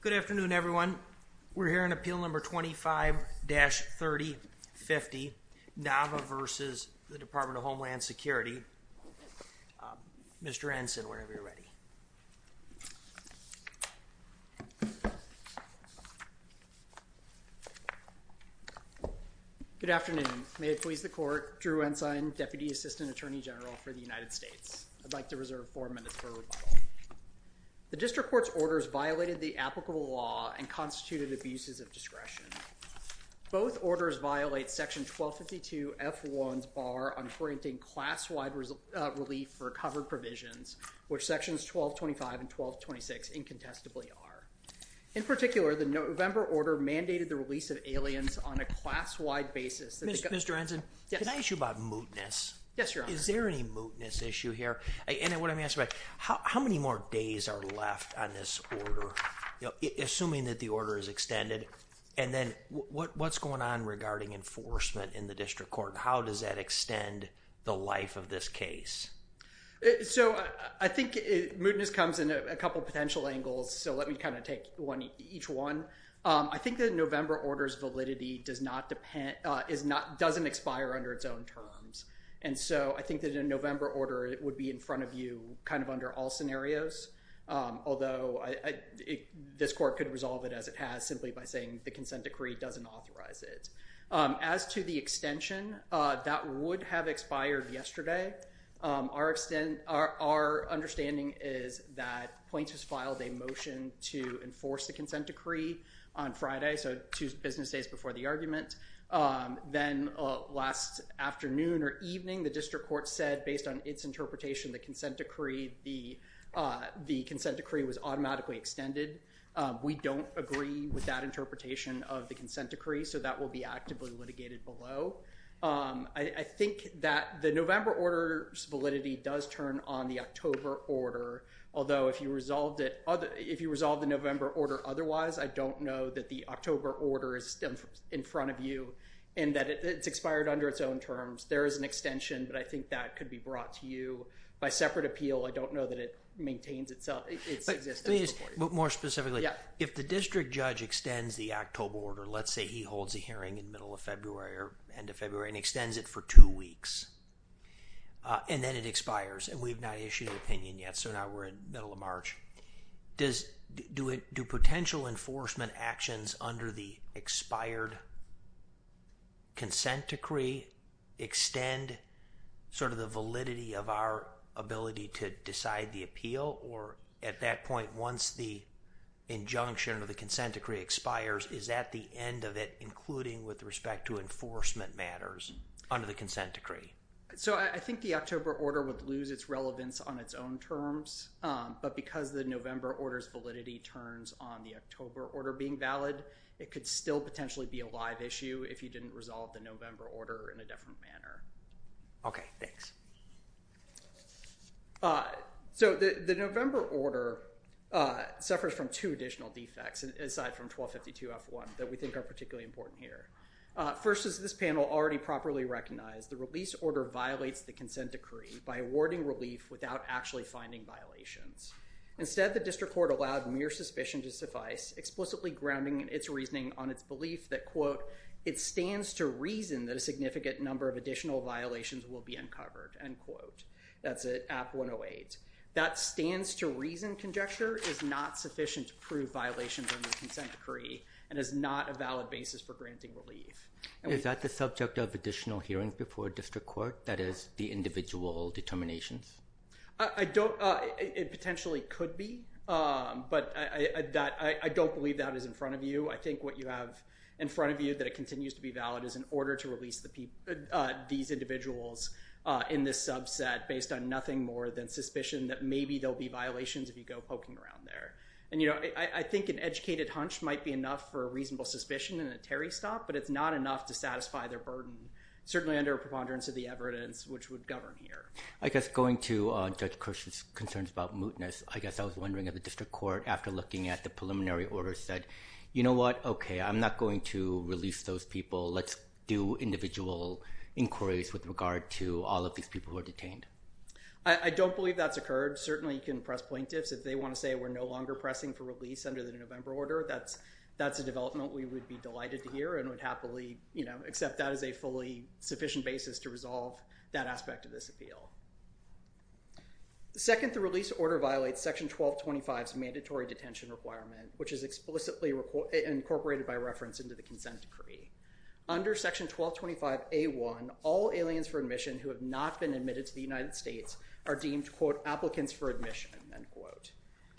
Good afternoon, everyone. We're here in appeal number 25-3050, Nava v. Department of Homeland Security. Mr. Ensign, whenever you're ready. Good afternoon. May it please the court, Drew Nava v. U.S. Department of Homeland Security. I'd like to reserve four minutes for rebuttal. The district court's orders violated the applicable law and constituted abuses of discretion. Both orders violate section 1252F1's bar on granting class-wide relief for covered provisions, which sections 1225 and 1226 incontestably are. In particular, the November order mandated the release of aliens on a class-wide basis. Mr. Ensign, can I ask you about mootness? Is there any mootness issue here? How many more days are left on this order, assuming that the order is extended? And then what's going on regarding enforcement in the district court? How does that extend the life of this case? I think mootness comes in a couple potential angles, so let me take each one. I think the November order's validity doesn't expire under its own terms, and so I think that in November order it would be in front of you kind of under all scenarios, although this court could resolve it as it has simply by saying the consent decree doesn't authorize it. As to the extension, that would have expired yesterday. Our understanding is that points has filed a motion to enforce the consent decree on Friday, so two business days before the argument. Then last afternoon or evening, the district court said, based on its interpretation, the consent decree was automatically extended. We don't agree with that interpretation of the consent decree, so that will be actively litigated below. I think that the November order's validity does turn on the October order, although if you resolve the November order otherwise, I don't know that the October order is in front of you and that it's expired under its own terms. There is an extension, but I think that could be brought to you by separate appeal. I don't know that it maintains its existence. More specifically, if the district judge extends the October order, let's say he holds a hearing in the middle of February or end of February and extends it for two weeks and then it expires and we've not issued an opinion yet, so now we're in the middle of March, do potential enforcement actions under the expired consent decree extend sort of the validity of our ability to decide the appeal? Or at that point, once the injunction or the consent decree expires, is that the end of it, including with respect to enforcement matters under the consent decree? So I think the October order would lose its relevance on its own terms, but because the November order's validity turns on the October order being valid, it could still potentially be a live issue if you didn't resolve the November order in a different manner. Okay, thanks. So the November order suffers from two additional defects, aside from 1252F1, that we think are particularly important here. First is this panel already properly recognized. The release order violates the consent decree by awarding relief without actually finding violations. Instead, the district court allowed mere suspicion to suffice, explicitly grounding its reasoning on its belief that, quote, it stands to reason that a significant number of additional violations will be uncovered, end quote. That's at 108. That stands to reason conjecture is not sufficient to prove violations under the consent decree and is not a valid basis for granting relief. Is that the subject of additional hearing before district court, that is the individual determinations? It potentially could be, but I don't believe that is in front of you. I think what you have in front of you that it continues to be valid is an order to release these individuals in this subset based on nothing more than suspicion that maybe there'll be violations if you go poking around there. And I think an educated hunch might be enough for a reasonable suspicion in a Terry stop, but it's not enough to satisfy their burden, certainly under a preponderance of the evidence, which would govern here. I guess going to Judge Kirsch's concerns about mootness, I guess I was wondering if the district court, after looking at the preliminary order, said, you know what, okay, I'm not going to release those people. Let's do individual inquiries with regard to all of these people who are detained. I don't believe that's occurred. Certainly you can press plaintiffs if they want to say we're no longer pressing for release under the November order. That's a development we would be delighted to hear and would happily accept that as a fully sufficient basis to resolve that aspect of this appeal. Second, the release order violates section 1225's mandatory detention requirement, which is explicitly incorporated by reference into the consent decree. Under section 1225A1, all aliens for admission who have not been admitted to the United States are deemed, applicants for admission, end quote.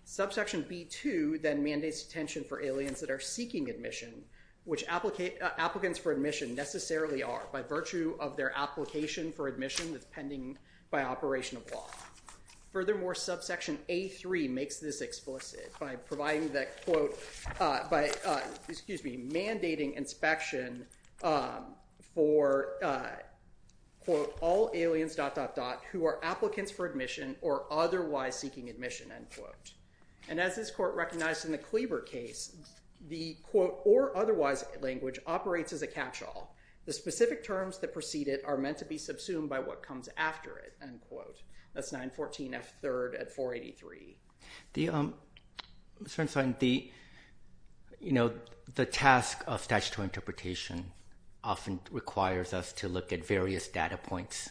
Subsection B2 then mandates detention for aliens that are seeking admission, which applicants for admission necessarily are by virtue of their application for admission that's pending by operation of law. Furthermore, subsection A3 makes this explicit by providing that, quote, by, excuse me, mandating inspection for, quote, all aliens, dot, dot, dot, who are applicants for admission or otherwise seeking admission, end quote. And as this court recognized in the Cleaver case, the, quote, or otherwise language operates as a catch-all. The specific terms that precede it are meant to be subsumed by what comes after it, end quote. That's 914F3 at 483. The, you know, the task of statutory interpretation often requires us to look at various data points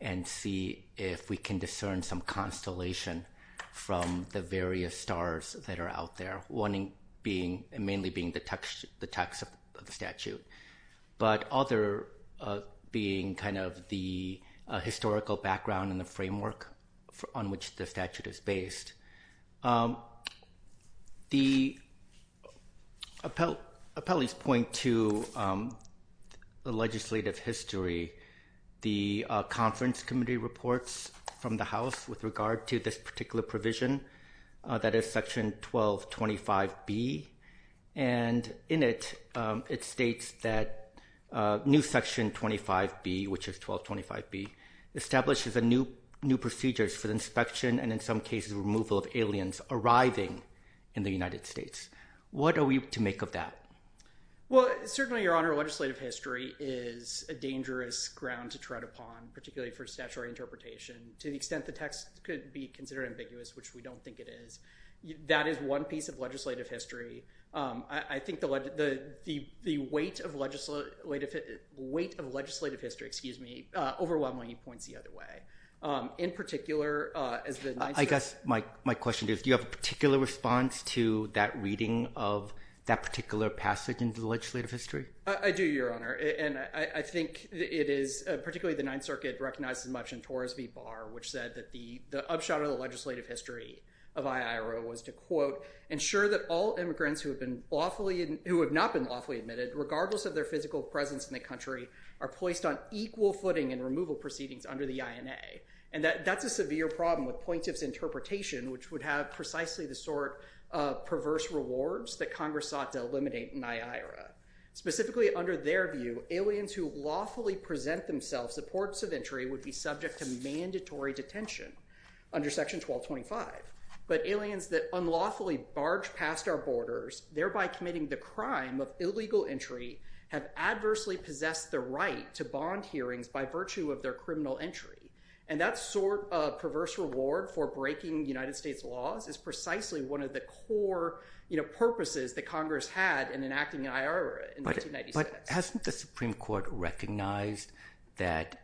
and see if we can discern some constellation from the various stars that are out there, one being, mainly being the text of the statute, but other being kind of the historical background and the framework on which the statute is based. The appellee's point to the legislative history, the conference committee reports from the House with regard to this particular provision that is section 1225B, and in it, it states that new section 25B, which is 1225B, establishes a new procedures for the inspection and in some cases, removal of aliens arriving in the United States. What are we to make of that? Well, certainly, Your Honor, legislative history is a dangerous ground to tread upon, particularly for statutory interpretation, to the extent the text could be considered ambiguous, which we don't think it is. That is one piece of legislative history. I think the weight of legislative history, excuse me, overwhelmingly points the other way. In particular, as the Ninth Circuit... I guess my question is, do you have a particular response to that reading of that particular passage in the legislative history? I do, Your Honor, and I think it is, particularly the Ninth Circuit recognized as much in Torres v. Barr, which said that the upshot of the legislative history of IIRO was to, quote, ensure that all immigrants who have not been lawfully admitted, regardless of their physical presence in the country, are placed on equal footing in removal proceedings under the INA. That is a severe problem with point of interpretation, which would have precisely the sort of perverse rewards that Congress sought to eliminate in IIRO. Specifically, under their view, aliens who lawfully present themselves at ports of entry would be subject to mandatory detention under Section 1225. But aliens that unlawfully barge past our borders, thereby committing the crime of illegal entry, have adversely possessed the right to bond hearings by of their criminal entry. And that sort of perverse reward for breaking United States laws is precisely one of the core purposes that Congress had in enacting IIRO in 1996. But hasn't the Supreme Court recognized that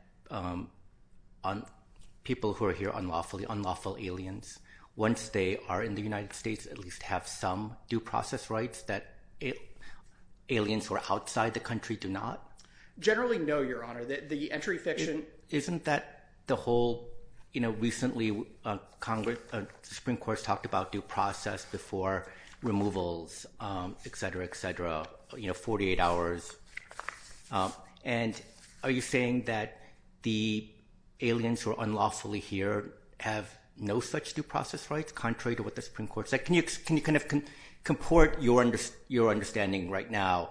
people who are here unlawfully, unlawful aliens, once they are in the United States, at least have some due process rights that aliens who are outside the country do not? Generally, no, Your Honor. The entry fiction... Isn't that the whole... Recently, the Supreme Court has talked about due process before removals, et cetera, et cetera, 48 hours. And are you saying that the aliens who are unlawfully here have no such due process rights, contrary to what the Supreme Court said? Can you kind of comport your understanding right now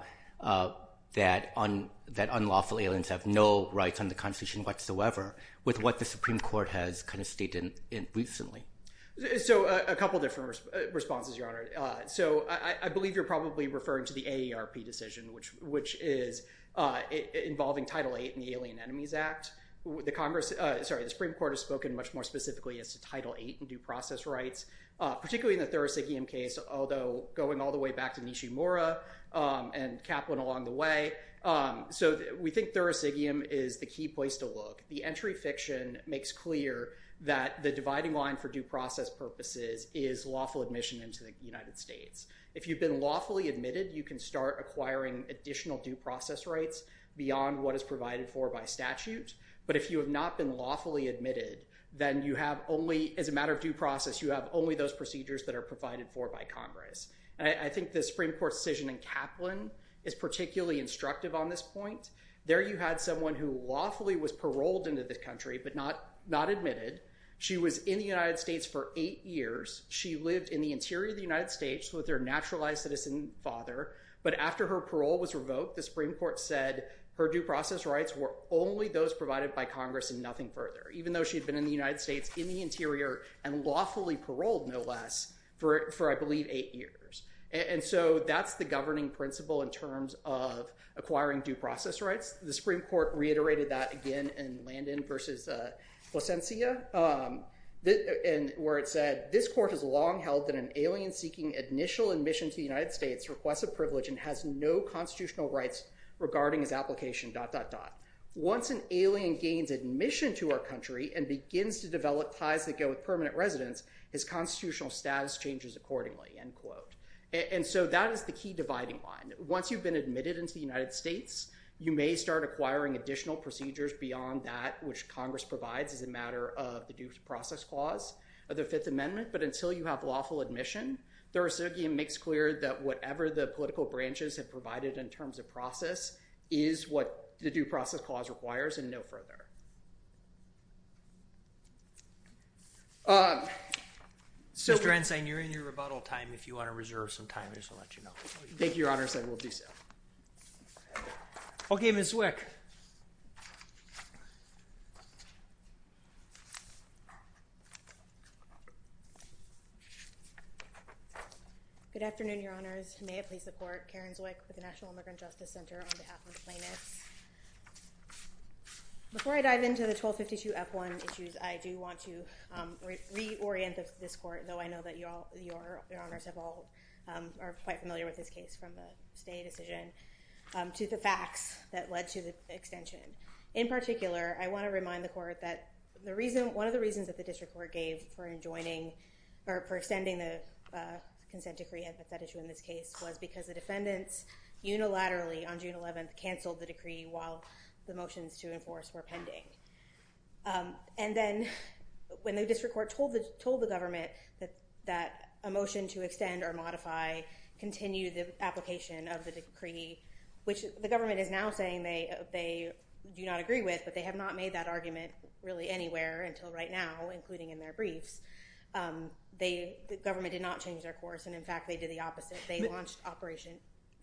that unlawful aliens have no rights under the Constitution whatsoever with what the Supreme Court has kind of stated recently? So a couple of different responses, Your Honor. So I believe you're probably referring to the AARP decision, which is involving Title VIII in the Alien Enemies Act. The Congress... Sorry, the Supreme Court has spoken much more specifically as to Title VIII and due process rights, particularly in the Thurisigium case, although going all the way back to Nishimura and Kaplan along the way. So we think Thurisigium is the key place to look. The entry fiction makes clear that the dividing line for due process purposes is lawful admission into the United States. If you've been lawfully admitted, you can start acquiring additional due process rights beyond what is provided for by statute. But if you have not been lawfully admitted, then you have only, as a matter of due process, you have only those procedures that are provided for by Congress. I think the Supreme Court's decision in Kaplan is particularly instructive on this point. There you had someone who lawfully was paroled into the country, but not admitted. She was in the United States for eight years. She lived in the interior of the United States with her naturalized citizen father. But after her parole was revoked, the Supreme Court said her due process rights were only those provided by Congress and nothing further, even though she had been in the United States in the interior and lawfully paroled, no less, for, I believe, eight years. And so that's the governing principle in terms of acquiring due process rights. The Supreme Court reiterated that again in Landon versus Plasencia, where it said, this court has long held that an alien seeking initial admission to the United States requests a privilege and has no constitutional rights regarding his application, dot, dot, dot. Once an alien gains admission to our country and begins to develop ties that go with permanent residence, his constitutional status changes accordingly, end quote. And so that is the key dividing line. Once you've been admitted into the United States, you may start acquiring additional procedures beyond that which Congress provides as a matter of the due process clause of the Fifth Amendment. But until you have lawful admission, Thursogian makes clear that whatever the political branches have provided in terms of process is what the due process clause requires and no further. Um, so, Dr. Ensign, you're in your rebuttal time. If you want to reserve some time, I just want to let you know. Thank you, Your Honors. I will do so. Okay, Ms. Wick. Good afternoon, Your Honors. May I please support Karen Zwick with the National Immigrant Justice Center on behalf of plaintiffs? Before I dive into the 1252 F1 issues, I do want to reorient this court, though I know that Your Honors have all, um, are quite familiar with this case from the state decision, um, to the facts that led to the extension. In particular, I want to remind the court that the reason, one of the reasons that the district court gave for enjoining, or for extending the, uh, consent decree as a set issue in this case was because the defendants unilaterally on June 11th canceled the decree while the motions to enforce were pending. Um, and then when the district court told the, told the government that, that a motion to extend or modify, continue the application of the decree, which the government is now saying they, they do not agree with, but they have not made that argument really anywhere until right now, including in their briefs. Um, they, the government did not change their course and, in fact, they did the opposite. They launched operation.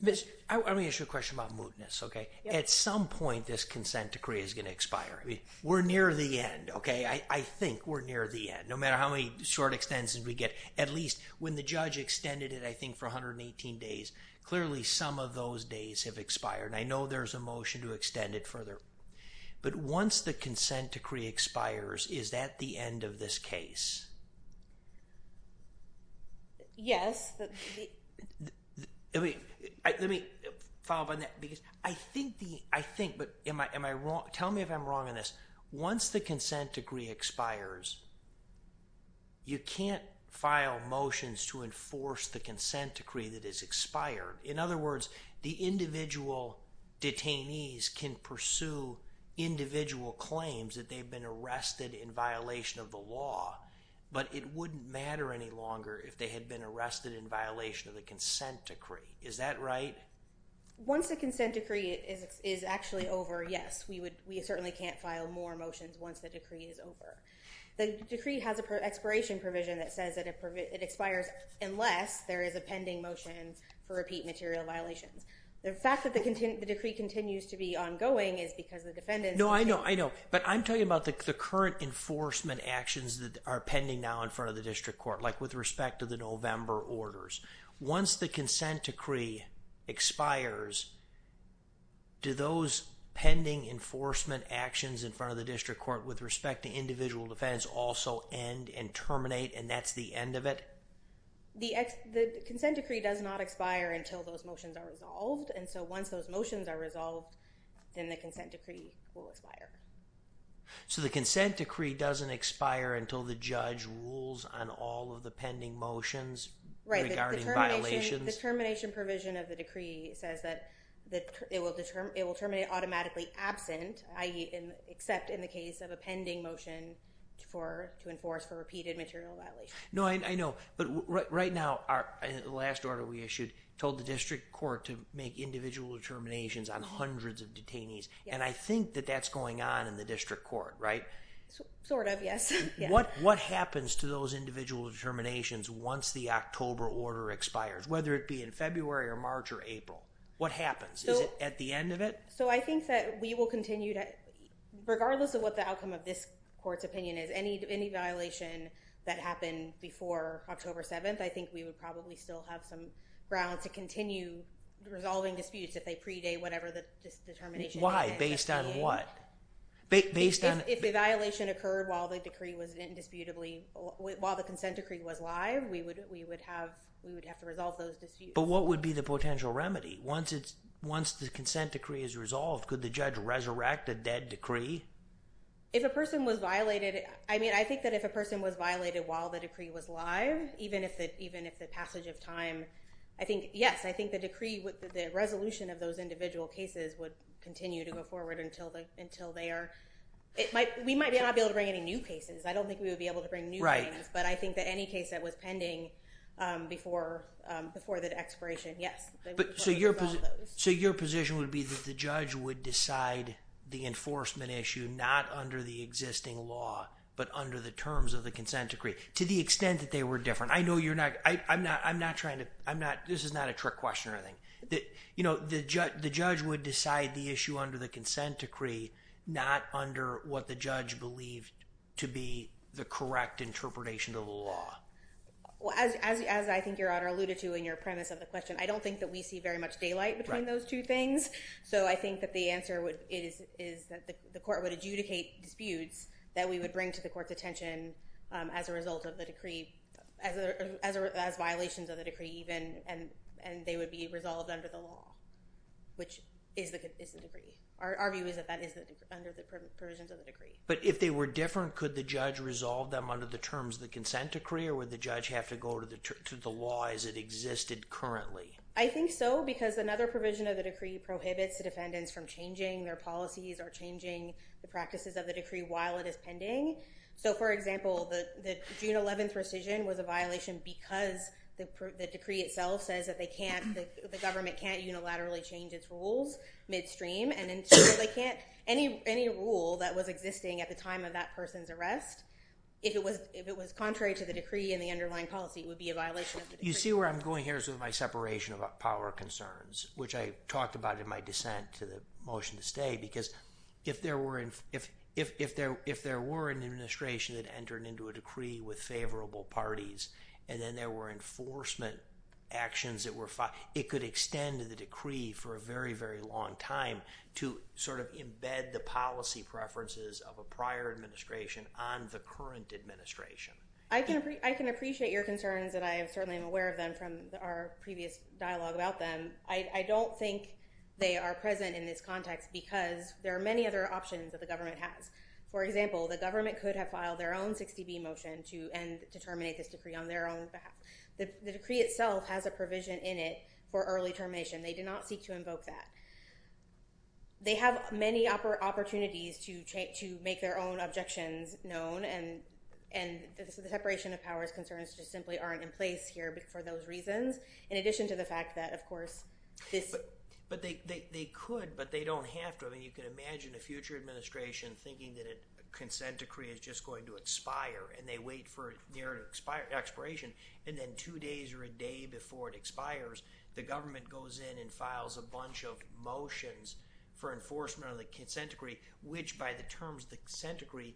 Ms., I, let me ask you a question about mootness, okay? At some point, this consent decree is going to expire. I mean, we're near the end, okay? I, I think we're near the end, no matter how many short extensions we get. At least when the judge extended it, I think for 118 days, clearly some of those days have expired. I know there's a motion to extend it further, but once the consent decree expires, is that the end of this case? Yes. I mean, let me follow up on that because I think the, I think, but am I, am I wrong? Tell me if I'm wrong on this. Once the consent decree expires, you can't file motions to enforce the consent decree that is expired. In other words, the individual detainees can pursue individual claims that they've been arrested in violation of the law, but it wouldn't matter any longer if they had been arrested in violation of the consent decree. Is that right? Once the consent decree is actually over, yes, we would, we certainly can't file more motions once the decree is over. The decree has an expiration provision that says that it expires unless there is a pending motion for repeat material violations. The fact that the decree continues to be ongoing is because the defendants... No, I know, I know, but I'm talking about the current enforcement actions that are pending now in front of the district court, like with respect to the November orders. Once the consent decree expires, do those pending enforcement actions in front of the district court with respect to individual defendants also end and terminate and that's the end of it? The consent decree does not expire until those motions are resolved. And so once those motions are resolved, then the consent decree will expire. So the consent decree doesn't expire until the judge rules on all of the pending motions regarding violations. The termination provision of the decree says that it will terminate automatically absent, i.e. except in the case of a pending motion to enforce the repeated material violation. No, I know, but right now, the last order we issued told the district court to make individual determinations on hundreds of detainees. And I think that that's going on in the district court, right? Sort of, yes. What happens to those individual determinations once the October order expires, whether it be in February or March or April? What happens? Is it at the end of it? So I think that we will continue to, regardless of what the outcome of this court's opinion is, any violation that happened before October 7th, I think we would probably still have some grounds to continue resolving disputes if they predate whatever this determination is. Based on what? If the violation occurred while the consent decree was live, we would have to resolve those disputes. But what would be the potential remedy? Once the consent decree is resolved, could the judge resurrect a dead decree? I think that if a person was violated while the decree was live, even if the passage of time, yes, I think the resolution of those individual cases would continue to go forward until they are... We might not be able to bring any new cases. I don't think we would be able to bring new cases, but I think that any case that was pending before the expiration, yes, they would resolve those. So your position would be that the judge would decide the enforcement issue, not under the existing law, but under the terms of the consent decree, to the extent that they were different. I know you're not... I'm not trying to... This is not a trick question or anything. The judge would decide the issue under the consent decree, not under what the judge believed to be the correct interpretation of the law. Well, as I think Your Honor alluded to in your premise of the question, I don't think that we see very much daylight between those two things. So I think that the answer is that the court would adjudicate disputes that we would bring to the court's attention as a result of the decree, as violations of the decree even, and they would be resolved under the law, which is the decree. Our view is that that is under the provisions of the decree. But if they were different, could the judge resolve them under the terms of the consent decree, or would the judge have to go to the law as it existed currently? I think so, because another provision of the decree prohibits the defendants from changing their policies or changing the practices of the decree while it is pending. So for example, the June 11th rescission was a violation because the decree itself says that they can't, the government can't unilaterally change its rules midstream. And so they can't, any rule that was existing at the time of that person's arrest, if it was contrary to the decree and the underlying policy, it would be a violation of the decree. You see where I'm going here is with my separation of power concerns, which I talked about in my motion to stay, because if there were an administration that entered into a decree with favorable parties, and then there were enforcement actions that were, it could extend the decree for a very, very long time to sort of embed the policy preferences of a prior administration on the current administration. I can appreciate your concerns, and I certainly am aware of them from our previous dialogue about them. I don't think they are present in this context because there are many other options that the government has. For example, the government could have filed their own 60B motion to end, to terminate this decree on their own behalf. The decree itself has a provision in it for early termination. They did not seek to invoke that. They have many opportunities to make their own objections known, and the separation of powers concerns just simply aren't in place here for those reasons, in addition to the fact that, of course, this- But they could, but they don't have to. I mean, you can imagine a future administration thinking that a consent decree is just going to expire, and they wait for their expiration, and then two days or a day before it expires, the government goes in and files a bunch of motions for enforcement of the consent decree, which, by the terms of the consent decree,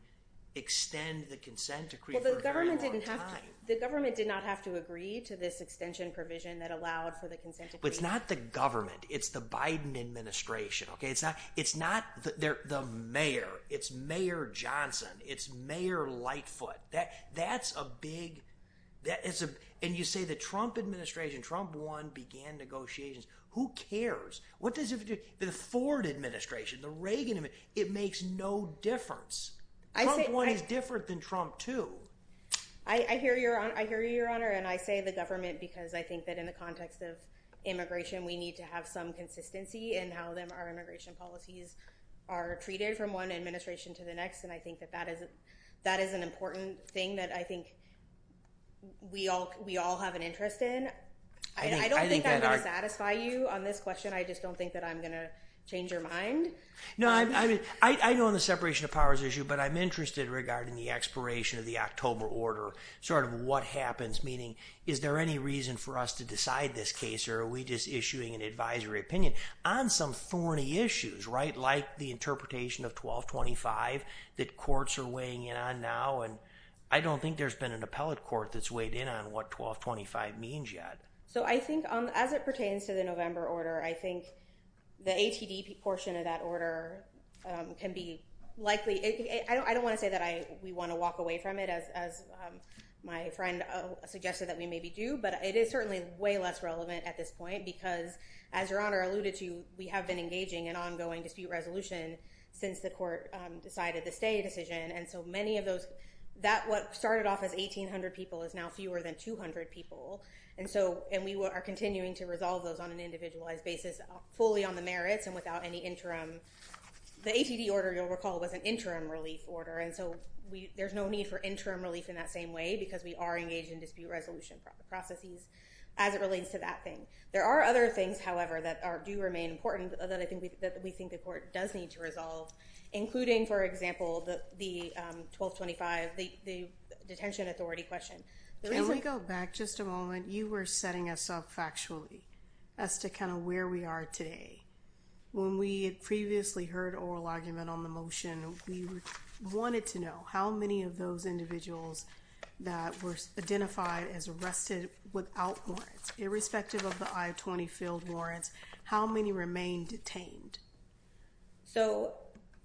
extend the consent decree for a very long time. The government did not have to agree to this extension provision that allowed for the consent decree. But it's not the government. It's the Biden administration. It's not the mayor. It's Mayor Johnson. It's Mayor Lightfoot. That's a big- And you say the Trump administration, Trump won, began negotiations. Who cares? What does it have to do- The Ford administration, the Reagan administration, it makes no difference. Trump won is different than Trump, too. I hear you, Your Honor, and I say the government because I think that in the context of immigration, we need to have some consistency in how our immigration policies are treated from one administration to the next, and I think that that is an important thing that I think we all have an interest in. I don't think I'm going to satisfy you on this question. I just don't think that I'm going to change your mind. No, I know on the separation of powers issue, but I'm interested regarding the expiration of the October order, sort of what happens, meaning is there any reason for us to decide this case, or are we just issuing an advisory opinion on some thorny issues, right, like the interpretation of 1225 that courts are weighing in on now, and I don't think there's been an appellate court that's weighed in on what 1225 means yet. So I think as it pertains to the order, I think the ATD portion of that order can be likely, I don't want to say that we want to walk away from it as my friend suggested that we maybe do, but it is certainly way less relevant at this point because, as Your Honor alluded to, we have been engaging in ongoing dispute resolution since the court decided the stay decision, and so many of those, that what started off as 1800 people is now fewer than 200 people, and we are continuing to resolve those on an individualized basis fully on the merits and without any interim, the ATD order, you'll recall, was an interim relief order, and so there's no need for interim relief in that same way because we are engaged in dispute resolution processes as it relates to that thing. There are other things, however, that do remain important that I think that we think the court does need to resolve, including, for example, the 1225, the detention authority question. Can we go back just a moment? You were setting us up factually as to kind of where we are today. When we had previously heard oral argument on the motion, we wanted to know how many of those individuals that were identified as arrested without warrants, irrespective of the I-20 field warrants, how many remain detained? So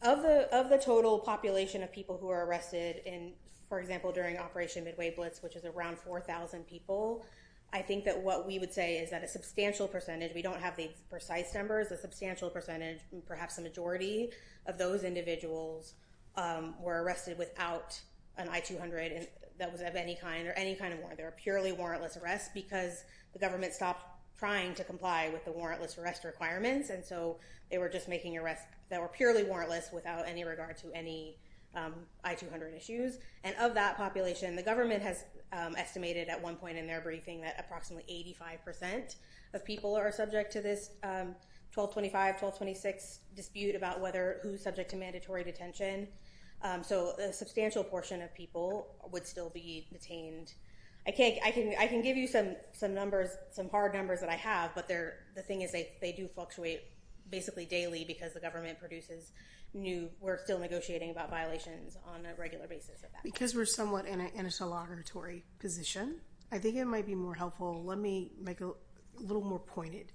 of the total population of people who are arrested in, for example, during Operation Midway Blitz, which is around 4,000 people, I think that what we would say is that a substantial percentage, we don't have the precise numbers, a substantial percentage, perhaps the majority of those individuals were arrested without an I-200 that was of any kind or any kind of warrant. They were purely warrantless arrests because the government stopped trying to comply with the making arrests that were purely warrantless without any regard to any I-200 issues. And of that population, the government has estimated at one point in their briefing that approximately 85% of people are subject to this 1225, 1226 dispute about who's subject to mandatory detention. So a substantial portion of people would still be detained. I can give you some numbers, some hard numbers that I have, but the thing is they do fluctuate basically daily because the government produces new, we're still negotiating about violations on a regular basis. Because we're somewhat in a celebratory position, I think it might be more helpful, let me make it a little more pointed.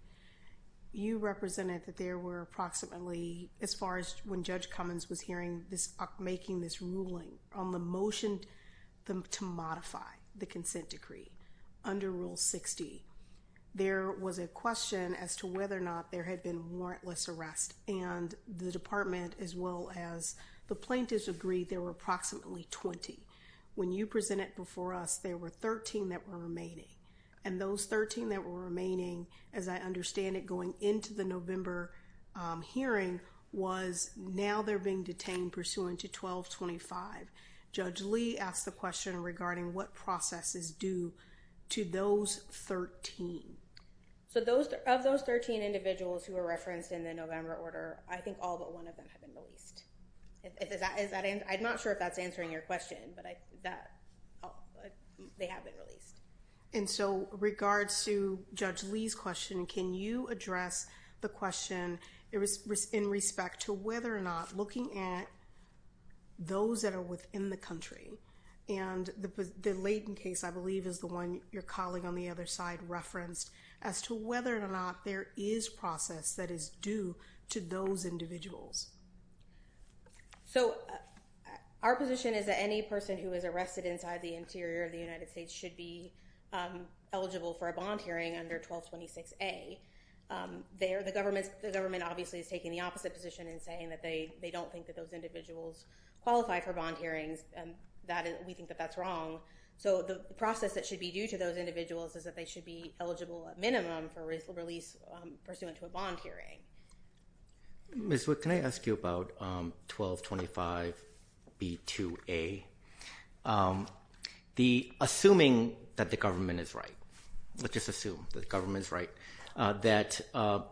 You represented that there were approximately, as far as when Judge Cummins was hearing, making this ruling on the motion to modify the consent decree under Rule 60, there was a question as to whether or not there had been warrantless arrest. And the department, as well as the plaintiffs, agreed there were approximately 20. When you presented before us, there were 13 that were remaining. And those 13 that were remaining, as I understand it going into the November hearing, was now they're being detained pursuant to 1225. Judge Lee asked the question regarding what process is due to those 13. So of those 13 individuals who were referenced in the November order, I think all but one of them have been released. I'm not sure if that's answering your question, but they have been released. And so regards to Judge Lee's question, can you address the question in respect to whether or not looking at those that are within the country, and the Leighton case, I believe, is the one your colleague on the other side referenced, as to whether or not there is process that is due to those individuals? So our position is that any person who is arrested inside the interior of the United States should be eligible for a bond hearing under 1226A. There, the government obviously is taking the opposite position in saying that they don't think that those individuals qualify for bond hearings. We think that that's wrong. So the process that should be due to those individuals is that they should be eligible at minimum for release pursuant to a bond hearing. Ms. Wick, can I ask you about 1225B2A? Assuming that the government is right, let's just assume that the government is right, that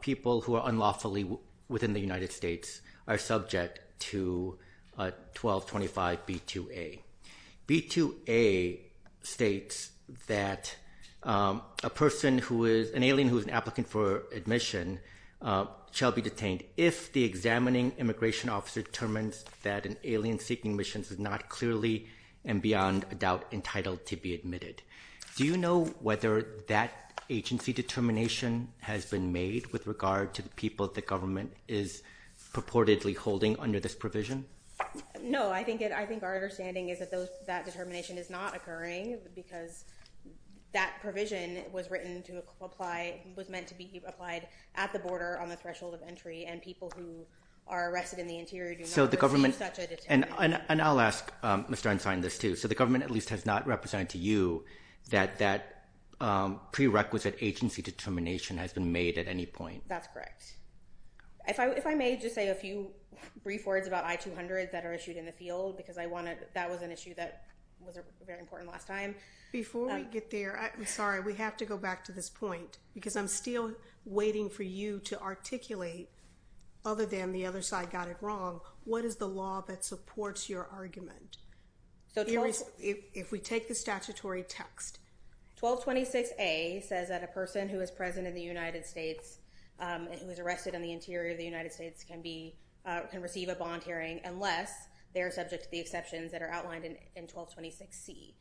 people who are unlawfully within the United States are subject to 1225B2A. B2A states that an alien who is an applicant for admission shall be detained if the examining immigration officer determines that an alien seeking is not clearly and beyond a doubt entitled to be admitted. Do you know whether that agency determination has been made with regard to the people the government is purportedly holding under this provision? No. I think our understanding is that that determination is not occurring because that provision was written to apply, was meant to be applied at the border on the threshold of entry, and people who are arrested in the interior do not receive such a determination. And I'll ask Mr. Ensign this too. So the government at least has not represented to you that that prerequisite agency determination has been made at any point? That's correct. If I may just say a few brief words about I-200s that are issued in the field because that was an issue that was very important last time. Before we get there, I'm sorry, we have to go back to this point because I'm still waiting for you to articulate, other than the other side got it wrong, what is the law that supports your argument? If we take the statutory text. 1226A says that a person who is present in the United States and who is arrested in the interior of the United States can receive a bond hearing unless they are subject to the exceptions that are outlined in 1226C.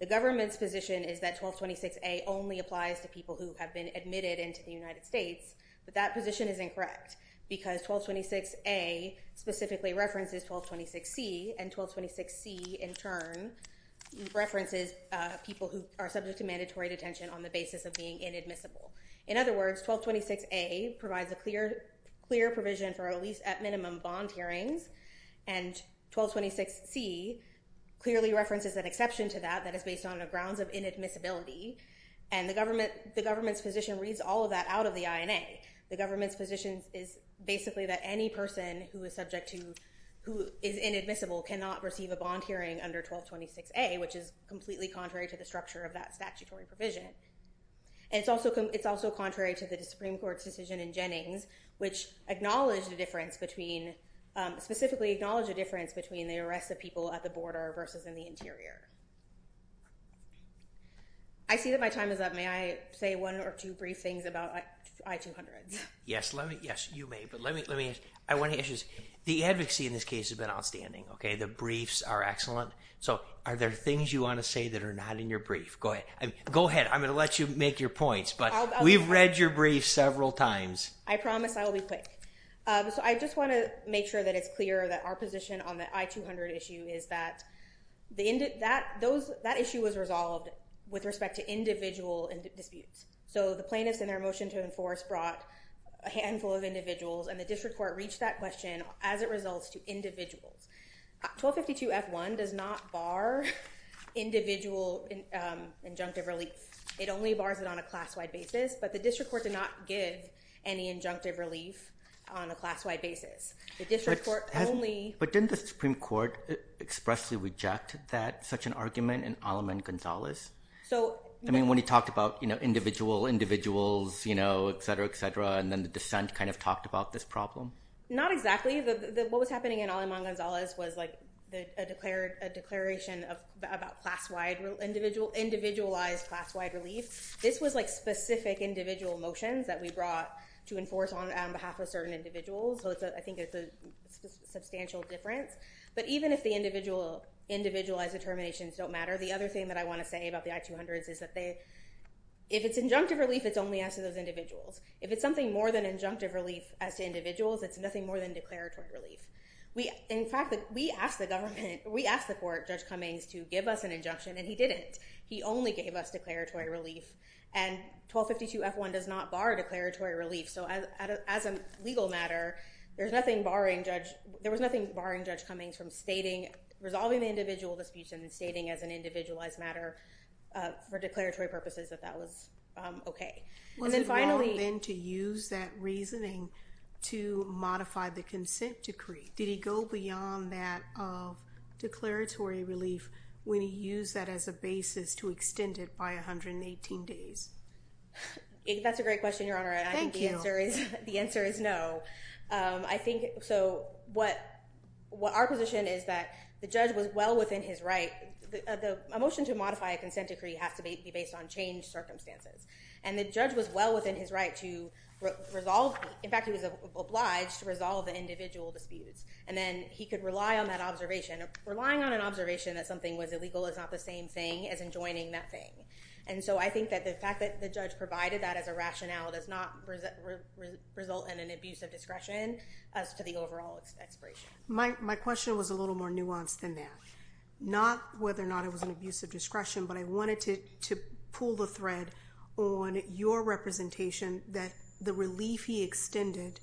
The government's position is that 1226A only applies to people who have been admitted into the United States, but that position is incorrect because 1226A specifically references 1226C, and 1226C in turn references people who are subject to mandatory detention on the basis of being inadmissible. In other words, 1226A provides a clear provision for at least at minimum bond hearings, and 1226C clearly references an exception to that that is based on grounds of inadmissibility, and the government's position reads all of that out of the INA. The government's position is basically that any person who is inadmissible cannot receive a bond hearing under 1226A, which is completely contrary to the structure of that statutory provision. It's also contrary to the Supreme Court's decision in Jennings, which acknowledged the difference between, specifically acknowledged the difference between the arrest of people at the border versus in the interior. I see that my time is up. May I say one or two brief things about I-200s? Yes, you may, but let me ask you this. The advocacy in this case has been outstanding, okay? The briefs are excellent. So are there things you want to say that are not in your brief? Go ahead. I'm going to let you make your points, but we've read your brief several times. I promise I will be quick. So I just want to make sure that it's clear that our position on the I-200 issue is that that issue was resolved with respect to individual disputes. So the plaintiffs in their motion to enforce brought a handful of individuals, and the district court reached that question as it results to individuals. 1252F1 does not bar individual injunctive relief. It only bars it on a class-wide basis, but the district court did not give any injunctive relief on a class-wide basis. The district court only- But didn't the Supreme Court expressly reject such an argument in Aleman-Gonzalez? I mean, when he talked about individual individuals, et cetera, et cetera, and then the dissent kind of talked about this problem? Not exactly. What was happening in Aleman-Gonzalez was a declaration about class-wide, individualized class-wide relief. This was specific individual motions that we brought to enforce on behalf of certain individuals, so I think it's a substantial difference. But even if the individualized determinations don't matter, the other thing that I want to say about the I-200s is that if it's injunctive relief, it's only asked of those individuals. If it's something more than injunctive relief as to individuals, it's nothing more than declaratory relief. In fact, we asked the government, we asked the court, Judge Cummings, to give us an injunction, and he didn't. He only gave us declaratory relief, and 1252 F-1 does not bar declaratory relief, so as a legal matter, there was nothing barring Judge Cummings from resolving the individual disputes and then stating as an individualized matter for declaratory purposes that that was okay. And then finally- Was it wrong then to use that reasoning to modify the consent decree? Did he go beyond that declaratory relief when he used that as a basis to extend it by 118 days? That's a great question, Your Honor. Thank you. I think the answer is no. So our position is that the judge was well within his right. A motion to modify a consent decree has to be based on changed circumstances, and the judge was well within his right to resolve, in fact, he was obliged to resolve the individual disputes, and then he could rely on that observation. Relying on an observation that something was illegal is not the same thing as enjoining that thing. And so I think that the fact that the judge provided that as a rationale does not result in an abuse of discretion as to the overall expiration. My question was a little more nuanced than that. Not whether or not it was an abuse of discretion, but I wanted to pull the thread on your representation that the relief he extended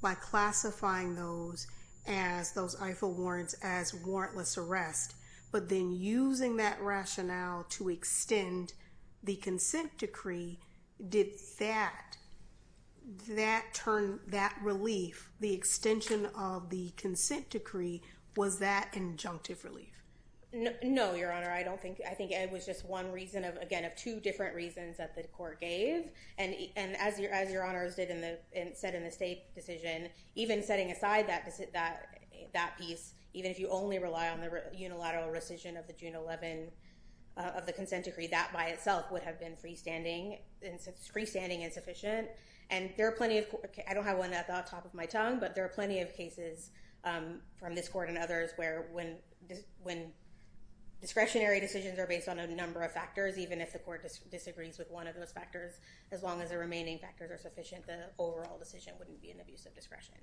by classifying those IFA warrants as warrantless arrest, but then using that rationale to extend the consent decree, did that turn that relief, the extension of the consent decree, was that injunctive relief? No, Your Honor. I think it was just one reason, again, two different reasons that the court gave. And as Your Honor said in the state decision, even setting aside that piece, even if you only rely on the unilateral rescission of the June 11 of the consent decree, that by itself would have been freestanding and sufficient. And there are plenty of, I don't have one at the top of my tongue, but there are plenty of cases from this court and others where when discretionary decisions are based on a number of factors, even if the court disagrees with one of those factors, as long as the remaining factors are sufficient, the overall decision wouldn't be an abuse of discretion.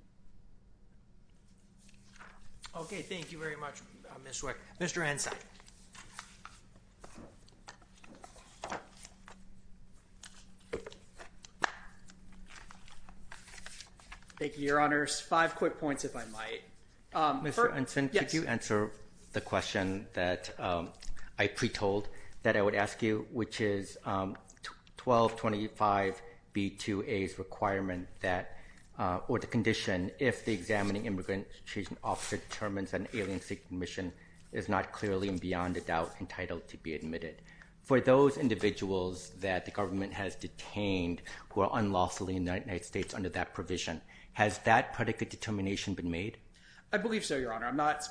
Okay. Thank you very much, Ms. Wick. Mr. Ensign. Thank you, Your Honors. Five quick points, if I might. Mr. Ensign, could you answer the question that I pre-told that I would ask you, which is 1225B2A's requirement that, or the condition, if the examining immigration officer determines an alien-seeking mission is not clearly and beyond a doubt entitled to be admitted. For those individuals that the government has detained who are unlawfully in the United States under that provision, has that predicate determination been made? I believe so, Your Honor. I'm not...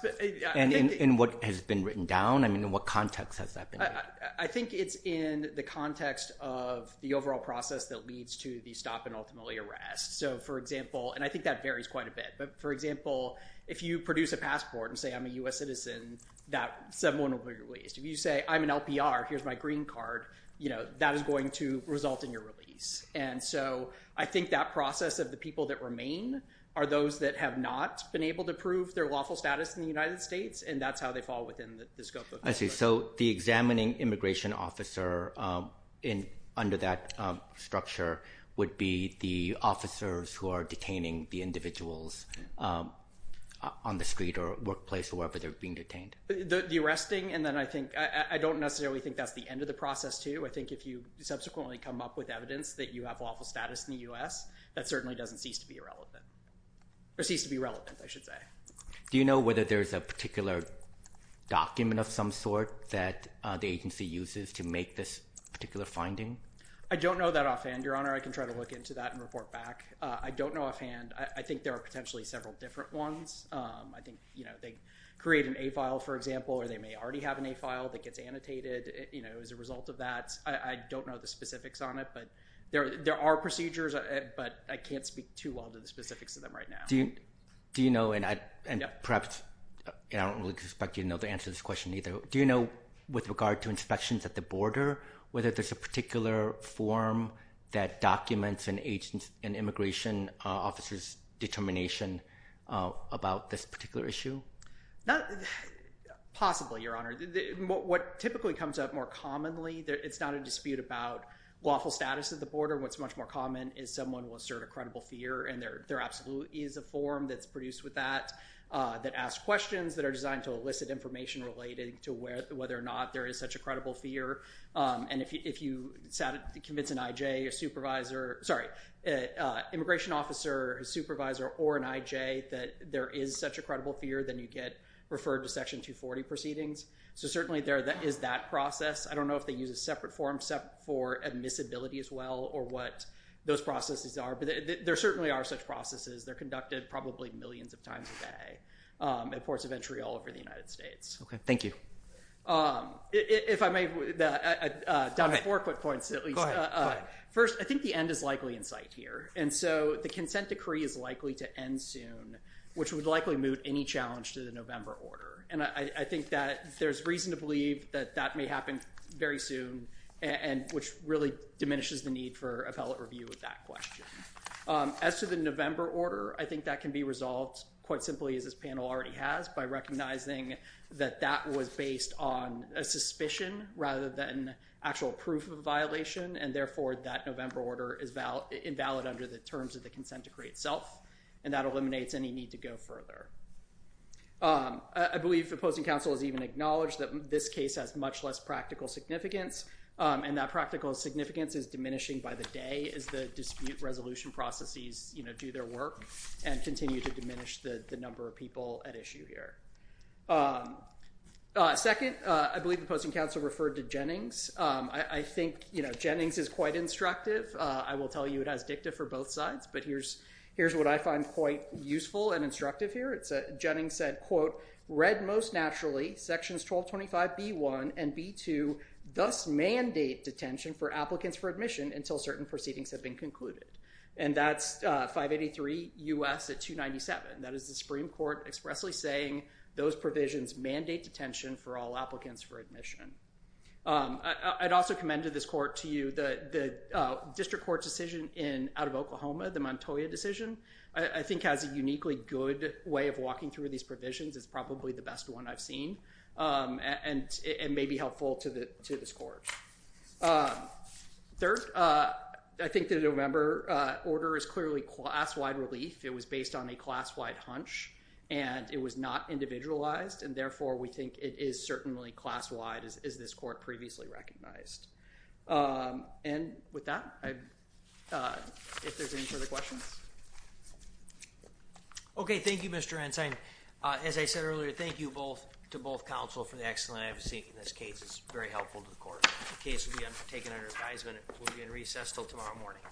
In what has been written down? I mean, in what context has that been written? I think it's in the context of the overall process that leads to the stop and ultimately arrest. So, for example, and I think that varies quite a bit, but for example, if you produce a passport and say, I'm a U.S. citizen, that 7-1-1 will be released. If you say, I'm an LPR, here's my green card, that is going to result in your release. And so I think that process of the people that remain are those that have not been able to prove their lawful status in the United States, and that's how they fall within the scope of... I see. So the examining immigration officer under that structure would be the officers who are detaining the individuals on the street or workplace or wherever they're being detained? The arresting, and then I think... I don't necessarily think that's the end of the process too. I think if you subsequently come up with evidence that you have lawful status in the U.S., that certainly doesn't cease to be irrelevant, or cease to be relevant, I should say. Do you know whether there's a particular document of some sort that the agency uses to make this particular finding? I don't know that offhand, Your Honor. I can try to look into that and report back. I don't know offhand. I think there are potentially several different ones. I think they create an A file, for example, or they may already have an A file that gets annotated as a result of that. I don't know the specifics on it, but there are procedures, but I can't speak too well to the specifics of them right now. Do you know, and perhaps... I don't really expect you to know the answer to this question either. Do you know with regard to inspections at the border whether there's a particular form that documents an immigration officer's determination about this particular issue? Possibly, Your Honor. What typically comes up more commonly, it's not a dispute about lawful status at the border. What's much more common is someone will assert a credible fear, and there absolutely is a form that's produced with that that asks questions that are designed to elicit information related to whether or not there is such a credible fear. And if you convince an IJ, a supervisor, sorry, an immigration officer, a supervisor, or an IJ that there is such a credible fear, then you get referred to Section 240 proceedings. So certainly there is that process. I don't know if they use a separate form for admissibility as well or what those processes are, but there certainly are such processes. They're conducted probably millions of times a day at ports of entry all over the United States. Okay. Thank you. If I may, down to four quick points at least. First, I think the end is likely in sight here, and so the consent decree is likely to end soon, which would likely moot any challenge to the November order. And I think that there's reason to believe that that may happen very soon, which really diminishes the need for appellate review of that question. As to the November order, I think that can be resolved quite simply, as this panel already has, by recognizing that that was based on a suspicion rather than actual proof of a violation, and therefore that November order is invalid under the terms of the consent decree itself, and that eliminates any need to go further. I believe opposing counsel has even acknowledged that this case has much less practical significance, and that practical significance is diminishing by the day as the dispute resolution processes do their work and continue to diminish the number of people at issue here. Second, I believe opposing counsel referred to Jennings. I think Jennings is quite instructive. I will tell you it has dicta for both sides, but here's what I find quite useful and instructive here. Jennings said, quote, read most naturally, sections 1225B1 and B2 thus mandate detention for applicants for admission until certain proceedings have been concluded, and that's 583 U.S. at 297. That is the Supreme Court expressly saying those provisions mandate detention for all applicants for admission. I'd also commend to this court to you the district court decision out of Oklahoma, the Montoya decision, I think has a uniquely good way of walking through these provisions. It's probably the best one I've seen, and it may be helpful to this court. Third, I think the November order is clearly class-wide relief. It was based on a class-wide hunch, and it was not individualized, and therefore we think it is certainly class-wide as this court previously recognized. And with that, if there's any further questions. Okay, thank you Mr. Ensign. As I said earlier, thank you both to both counsel for the excellent advocacy in this case. It's very helpful to the court. The case will be undertaken under advisement. It will be in recess until tomorrow morning.